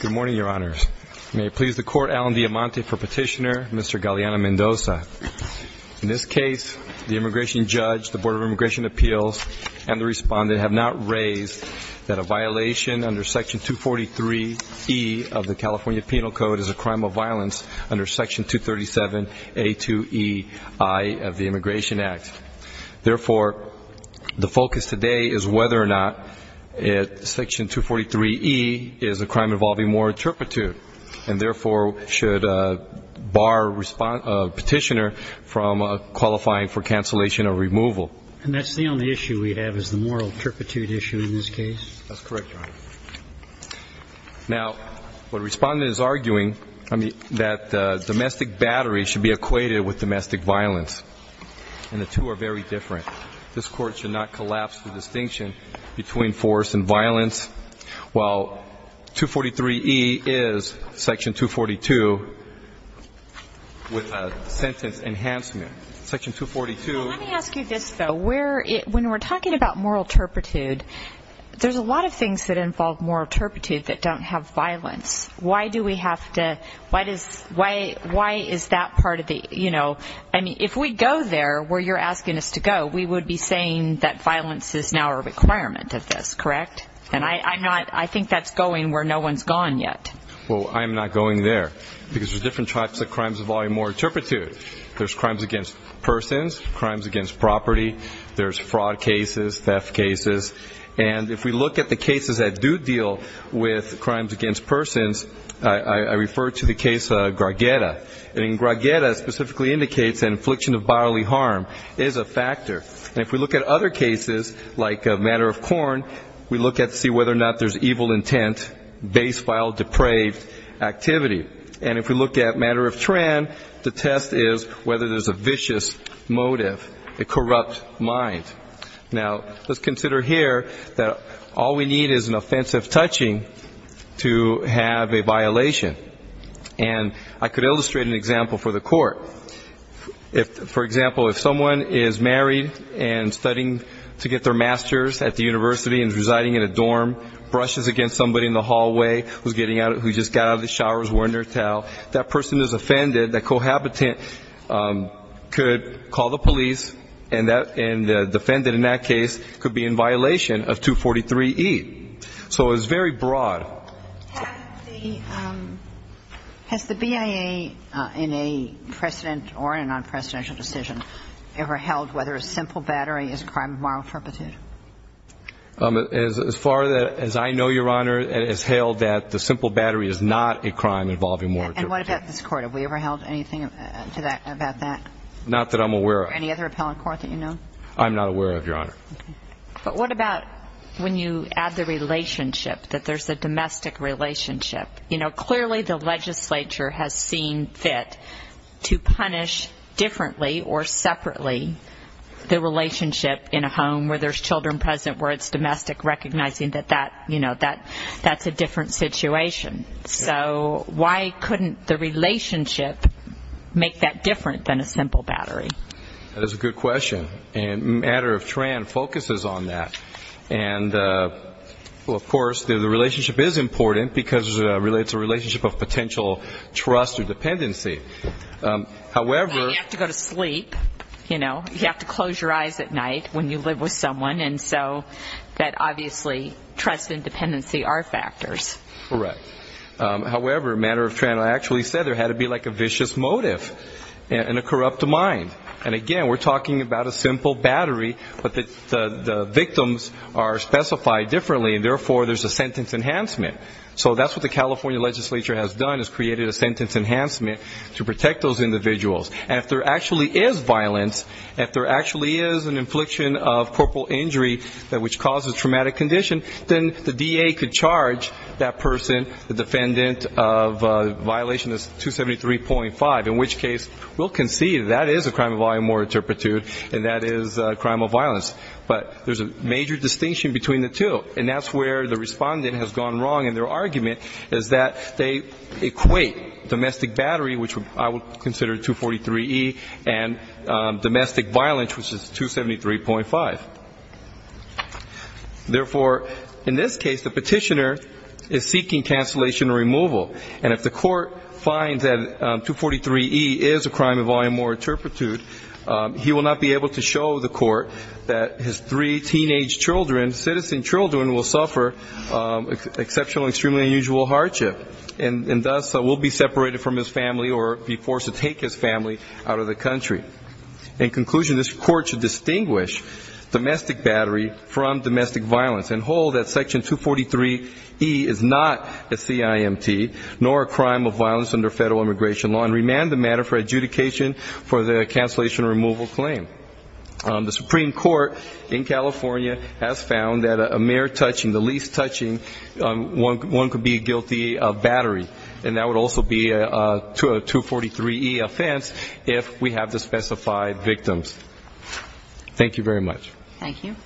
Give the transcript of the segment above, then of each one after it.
Good morning, Your Honors. May it please the Court, Alan Diamante for Petitioner, Mr. Galeana-Mendoza. In this case, the Immigration Judge, the Board of Immigration Appeals, and the Respondent have not raised that a violation under Section 243E of the California Penal Code is a crime of violence under Section 237A2EI of the Immigration Act. Therefore, the focus today is whether or not Section 243E is a crime involving moral turpitude, and therefore, should bar a Petitioner from qualifying for cancellation or removal. And that's the only issue we have, is the moral turpitude issue in this case? That's correct, Your Honor. Now, the Respondent is arguing that domestic battery should be equated with domestic violence, and the two are very different. This Court should not collapse the distinction between force and violence, while 243E is Section 242 with a sentence enhancement. Section 242 is... Let me ask you this, though. When we're talking about moral turpitude, there's a lot of things that involve moral turpitude that don't have violence. Why do we have to, why is that part of the, you know, I mean, if we go there, where you're asking us to go, we would be saying that violence is now a requirement of this, correct? And I'm not, I think that's going where no one's gone yet. Well, I'm not going there, because there's different types of crimes involving moral turpitude. There's crimes against persons, crimes against property, there's fraud cases, theft cases. And if we look at the cases that do deal with crimes against persons, I refer to the case Gargeta. And Gargeta specifically indicates that infliction of bodily harm is a factor. And if we look at other cases, like a matter of corn, we look at to see whether or not there's evil intent, basefile, depraved activity. And if we look at matter of tran, the test is whether there's a vicious motive, a corrupt mind. Now, let's consider here that all we need is an offensive touching to have a violation. And I could illustrate an example for the court. If, for example, if someone is married and studying to get their master's at the university and is residing in a dorm, brushes against somebody in the hallway, who's getting out, who just got out of the shower, is wearing their towel, that person is offended, that cohabitant could call the police and the defendant in that case could be in violation of 243E. So it's very broad. Has the BIA in a precedent or in a non-presidential decision ever held whether a simple battery is a crime of moral turpitude? As far as I know, Your Honor, it is held that the simple battery is not a crime involving moral turpitude. And what about this Court? Have we ever held anything to that, about that? Not that I'm aware of. Any other appellate court that you know? I'm not aware of, Your Honor. But what about when you add the relationship, that there's a domestic relationship? Clearly the legislature has seen fit to punish differently or separately the relationship in a home where there's children present where it's domestic, recognizing that that's a different situation. So why couldn't the relationship make that different than a simple battery? That is a good question. And a matter of trend focuses on that. And of course, the relationship is important because it's a relationship of potential trust or dependency. However... You have to go to sleep, you know. You have to close your eyes at night when you live with someone. And so that obviously trust and dependency are factors. Correct. However, a matter of trend, I actually said there had to be like a vicious motive and a corrupt mind. And again, we're talking about a simple battery, but the victims are specified differently, and therefore there's a sentence enhancement. So that's what the California legislature has done, is created a sentence enhancement to protect those individuals. And if there actually is violence, if there actually is an infliction of corporal injury that which causes traumatic condition, then the DA could charge that person, the defendant of violation is 273.5, in which case we'll concede that is a crime of volume or interpretude, and that is a crime of violence. But there's a major distinction between the two, and that's where the respondent has gone wrong in their argument, is that they equate domestic battery, which I would consider 243E, and domestic violence, which is 273.5. Therefore, in this case, the petitioner is seeking cancellation or removal, and if the court finds that 243E is a crime of volume or interpretude, he will not be able to show the court that his three teenage children, citizen children, will suffer exceptional and extremely unusual hardship, and thus will be separated from his family or be forced to take his family out of the country. In conclusion, this court should distinguish domestic battery from domestic violence and hold that Section 243E is not a CIMT, nor a crime of violence under federal immigration law, and remand the matter for adjudication for the cancellation or removal claim. The Supreme Court in California has found that a mere touching, the least touching, one could be guilty of battery, and that would also be a 243E offense if we have the specified victims. Thank you very much. Thank you.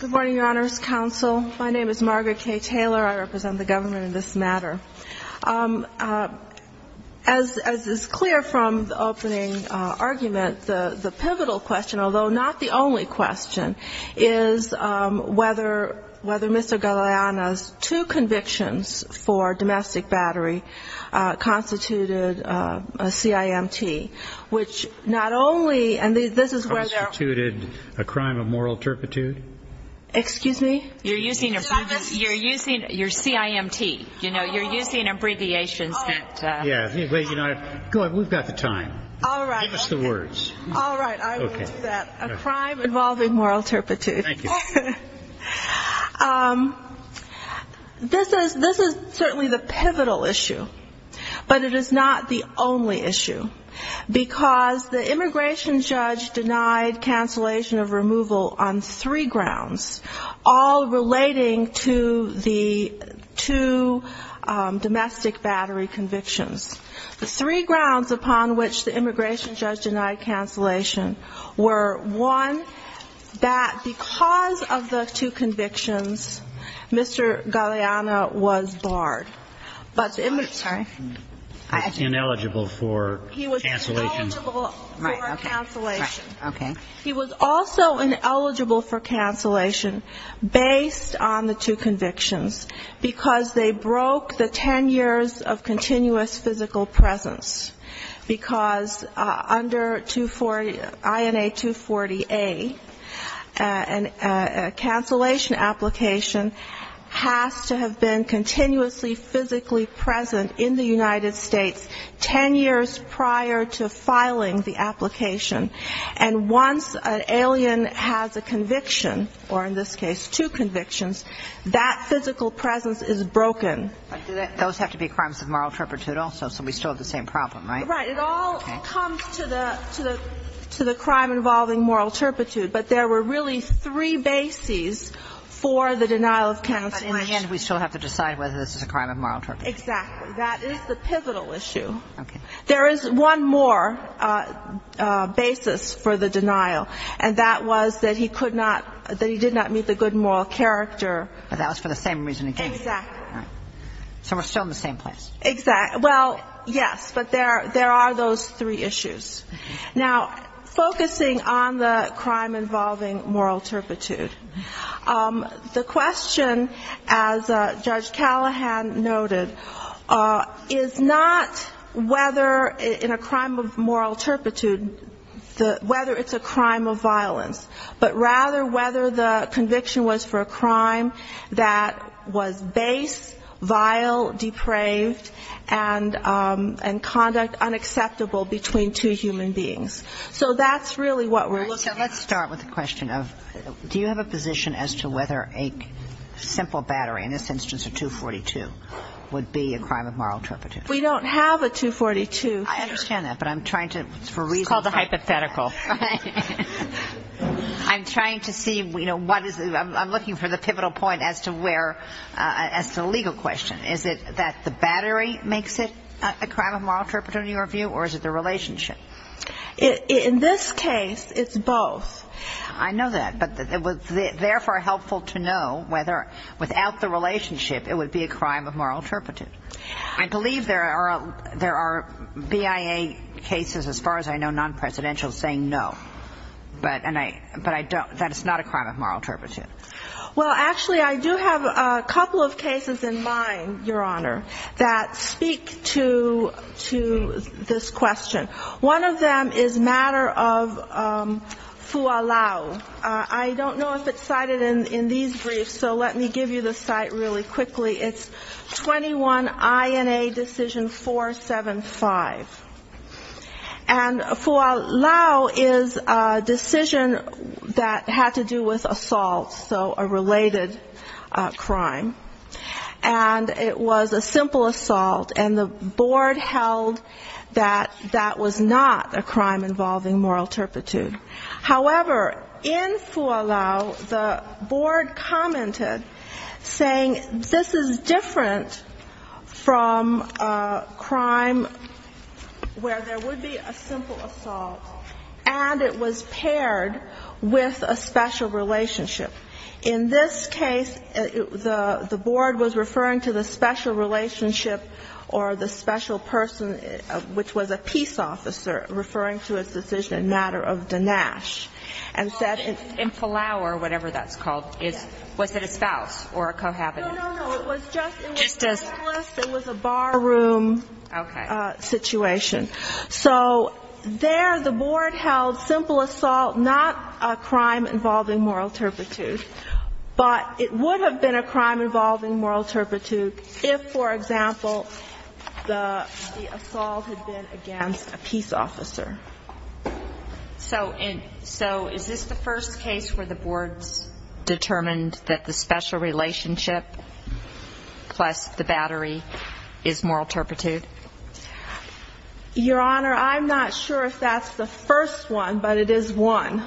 Good morning, Your Honors Counsel. My name is Margaret Kaye Taylor. I represent the government in this matter. As is clear from the opening argument, the petitioner is seeking to remove the CIMT from domestic battery. The pivotal question, although not the only question, is whether Mr. Galeana's two convictions for domestic battery constituted a CIMT, which not only, and this is where they're... Constituted a crime of moral interpretude? Excuse me? You're using CIMT. You're using abbreviations that... Go ahead. We've got the time. Give us the words. All right. I will use that. A crime involving moral interpretude. Thank you. This is certainly the pivotal issue, but it is not the only issue, because the immigration judge denied cancellation of removal on three grounds, all relating to the two domestic battery convictions. The three grounds upon which the immigration judge denied cancellation were, one, that because of the two convictions, Mr. Galeana was barred. I'm sorry? Ineligible for cancellation. He was ineligible for cancellation. He was also ineligible for cancellation, based on the two convictions, because they broke the 10 years of continuous physical presence. Because under INA 240A, a cancellation application has to have been continuously physically present in the United States 10 years prior to filing the application. And once an alien has a conviction, or in this case two convictions, that physical presence is broken. But do those have to be crimes of moral interpretude also? So we still have the same problem, right? Right. It all comes to the crime involving moral interpretude. But there were really three bases for the denial of cancellation. But in the end, we still have to decide whether this is a crime of moral interpretude. Exactly. That is the pivotal issue. Okay. There is one more basis for the denial, and that was that he could not, that he did not meet the good moral character. But that was for the same reason again. Exactly. Right. So we're still in the same place. Exactly. Well, yes, but there are those three issues. Now, focusing on the crime involving moral interpretude, the question, as Judge Callahan noted, is not whether it is a crime of moral interpretude, whether it's a crime of violence, but rather whether the conviction was for a crime that was base, vile, depraved, and conduct unacceptable between two human beings. So that's really what we're seeing. Well, so let's start with the question of do you have a position as to whether a simple battery, in this instance a 242, would be a crime of moral interpretude? If we don't have a 242... I understand that, but I'm trying to, for reasons... It's called a hypothetical. I'm trying to see, you know, what is the, I'm looking for the pivotal point as to where, as to the legal question. Is it that the battery makes it a crime of moral interpretude in your view, or is it the relationship? In this case, it's both. I know that, but it was therefore helpful to know whether without the relationship it would be a crime of moral interpretude. I believe there are BIA cases, as far as I know, non-presidential, saying no, but I don't, that it's not a crime of moral interpretude. Well, actually, I do have a couple of cases in mind, Your Honor, that speak to this question. One of them is matter of fualau. I don't know if it's cited in these briefs, so let me give you the cite really quickly. It's 21INA Decision 475. And fualau is a decision that had to do with assault, so a related crime. And it was a simple assault, and the board held that that was not a crime involving moral interpretude. However, in fualau, the board commented, saying this is different from a crime where there would be a simple assault, and it was paired with a special relationship. In this case, the board was referring to the special relationship or the special person, which was a peace officer, referring to its decision in matter of dinash, and said in fualau, or whatever that's called, was it a spouse or a cohabitant? No, no, no. It was just a bar room situation. So there the board held simple assault, not a crime involving moral interpretude, but it would have been a crime involving moral interpretude if, for example, the assault had been against a peace officer. So is this the first case where the boards determined that the special relationship plus the battery is moral interpretude? Your Honor, I'm not sure if that's the first one, but it is one.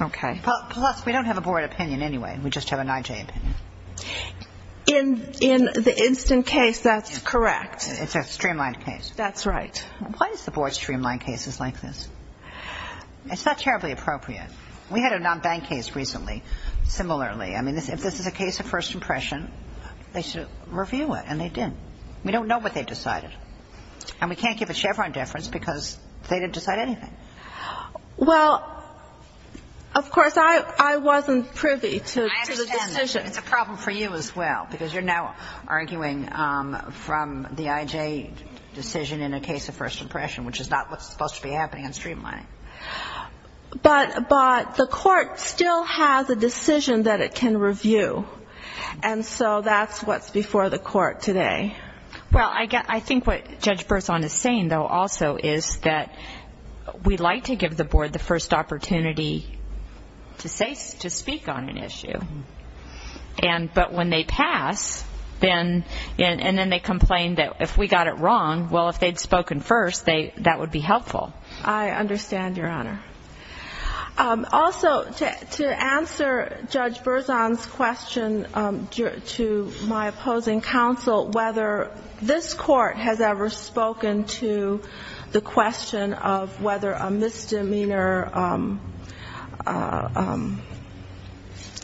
Okay. Plus, we don't have a board opinion anyway. We just have an IJ opinion. In the instant case, that's correct. It's a streamlined case. That's right. Why does the board streamline cases like this? It's not terribly appropriate. We had a non-bank case recently, similarly. I mean, if this is a case of first impression, they should review it, and they didn't. We don't know what they decided. And we can't give a Chevron deference because they didn't decide anything. Well, of course, I wasn't privy to the decision. I understand that. It's a problem for you as well, because you're now arguing from the IJ decision in a case of first impression, which is not what's supposed to be happening in streamlining. But the court still has a decision that it can review, and so that's what's before the court today. Well, I think what Judge Berzon is saying, though, also is that we'd like to give the board the first opportunity to speak on an issue, but when they pass, and then they complain that if we got it wrong, well, if they'd spoken first, that would be helpful. I understand, Your Honor. Also, to answer Judge Berzon's question to my opposing counsel, whether this court has ever spoken to the question of whether a misdemeanor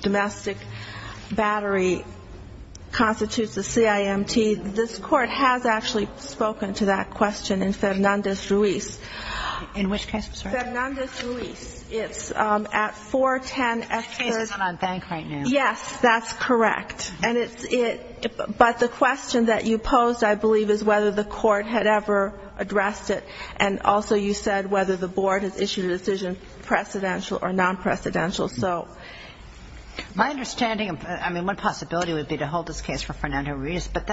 domestic battery constitutes a CIMT. This court has actually spoken to that question in Fernandez-Ruiz. In which case, I'm sorry? Fernandez-Ruiz. It's at 410 Expert. This case is not on bank right now. Yes, that's correct. But the question that you posed, I believe, is whether the court had ever addressed it, and also you said whether the board has issued a decision, precedential or non-precedential. My understanding, I mean, one possibility would be to hold this case for Fernandez-Ruiz, but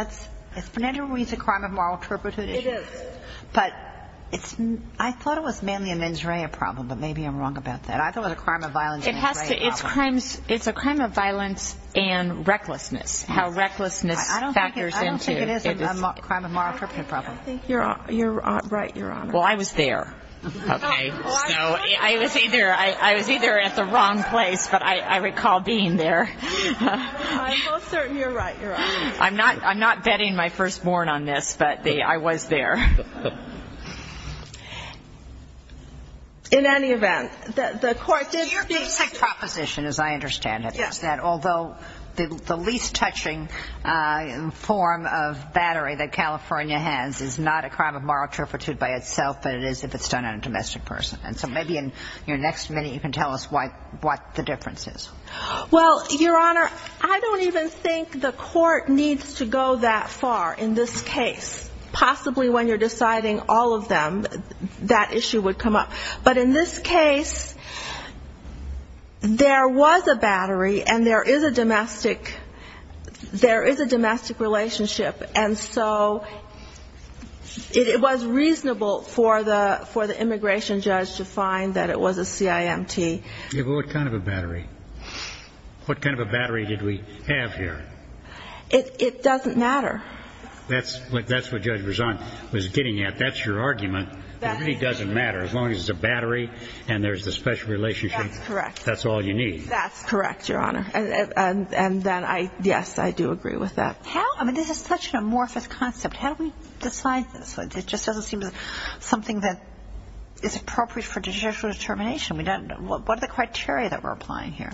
is Fernandez-Ruiz a crime of moral interpretive? It is. But I thought it was mainly an injury problem, but maybe I'm wrong about that. I thought it was a crime of violence. It's a crime of violence and recklessness, how recklessness factors into it. I don't think it is a crime of moral interpretive problem. You're right, Your Honor. Well, I was there, okay? So I was either at the wrong place, but I recall being there. I'm not betting my firstborn on this, but I was there. In any event, the court did say... Your basic proposition, as I understand it, is that although the least touching form of battery that California has is not a crime of moral interpretive by itself, but it is if it's done on a domestic person. And so maybe in your next minute you can tell us what the difference is. Well, Your Honor, I don't even think the court needs to go that far in this case, possibly when you're talking about the family, and you're deciding all of them, that issue would come up. But in this case, there was a battery, and there is a domestic relationship. And so it was reasonable for the immigration judge to find that it was a CIMT. Yeah, but what kind of a battery? What kind of a battery did we have here? It doesn't matter. That's what Judge Verzant was getting at. That's your argument. It really doesn't matter. As long as it's a battery and there's a special relationship, that's all you need. That's correct, Your Honor. And then, yes, I do agree with that. How? I mean, this is such an amorphous concept. How do we decide this? It just doesn't seem to be something that is appropriate for judicial determination. What are the criteria that we're applying here?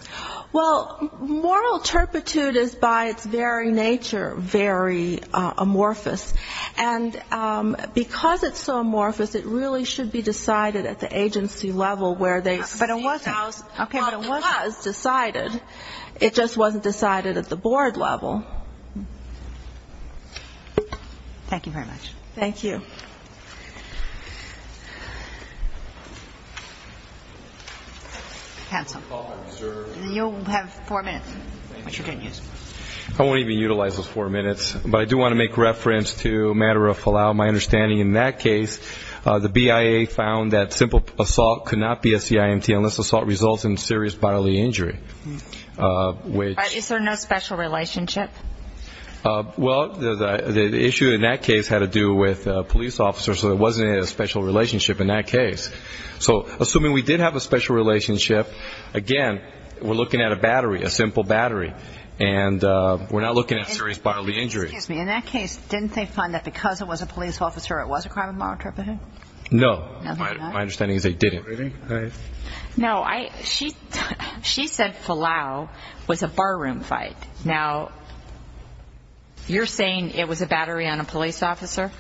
Well, moral turpitude is by its very nature very amorphous. And because it's so amorphous, it really should be decided at the agency level where they see how it was decided. It just wasn't decided at the board level. Thank you very much. Thank you. Counsel. You'll have four minutes, which you can use. I won't even utilize those four minutes, but I do want to make reference to a matter of fallout. My understanding in that case, the BIA found that simple assault could not be a CIMT unless assault results in serious bodily injury. Is there no special relationship? Well, the issue in that case had to do with police officers, so there wasn't a special relationship in that case. So assuming we did have a special relationship, again, we're looking at a battery, a simple battery. And we're not looking at serious bodily injuries. Excuse me. In that case, didn't they find that because it was a police officer, it was a crime of moral turpitude? No. My understanding is they didn't. No. She said fallout was a barroom fight. Now, you're saying it was a battery on a police officer?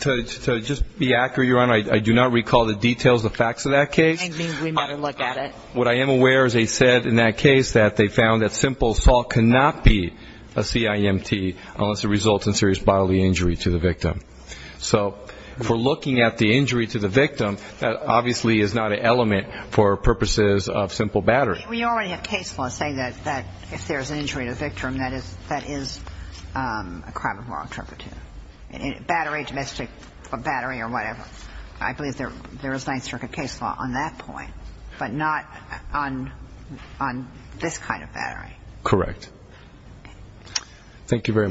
To just be accurate, Your Honor, I do not recall the details, the facts of that case. I think we'd better look at it. What I am aware is they said in that case that they found that simple assault could not be a CIMT unless it results in serious bodily injury to the victim. So if we're looking at the injury to the victim, that obviously is not an element for purposes of simple battery. We already have case law saying that if there's an injury to the victim, that is a crime of moral turpitude. Battery, domestic battery or whatever, I believe there is Ninth Circuit case law on that point, but not on this kind of battery. Correct. Thank you very much.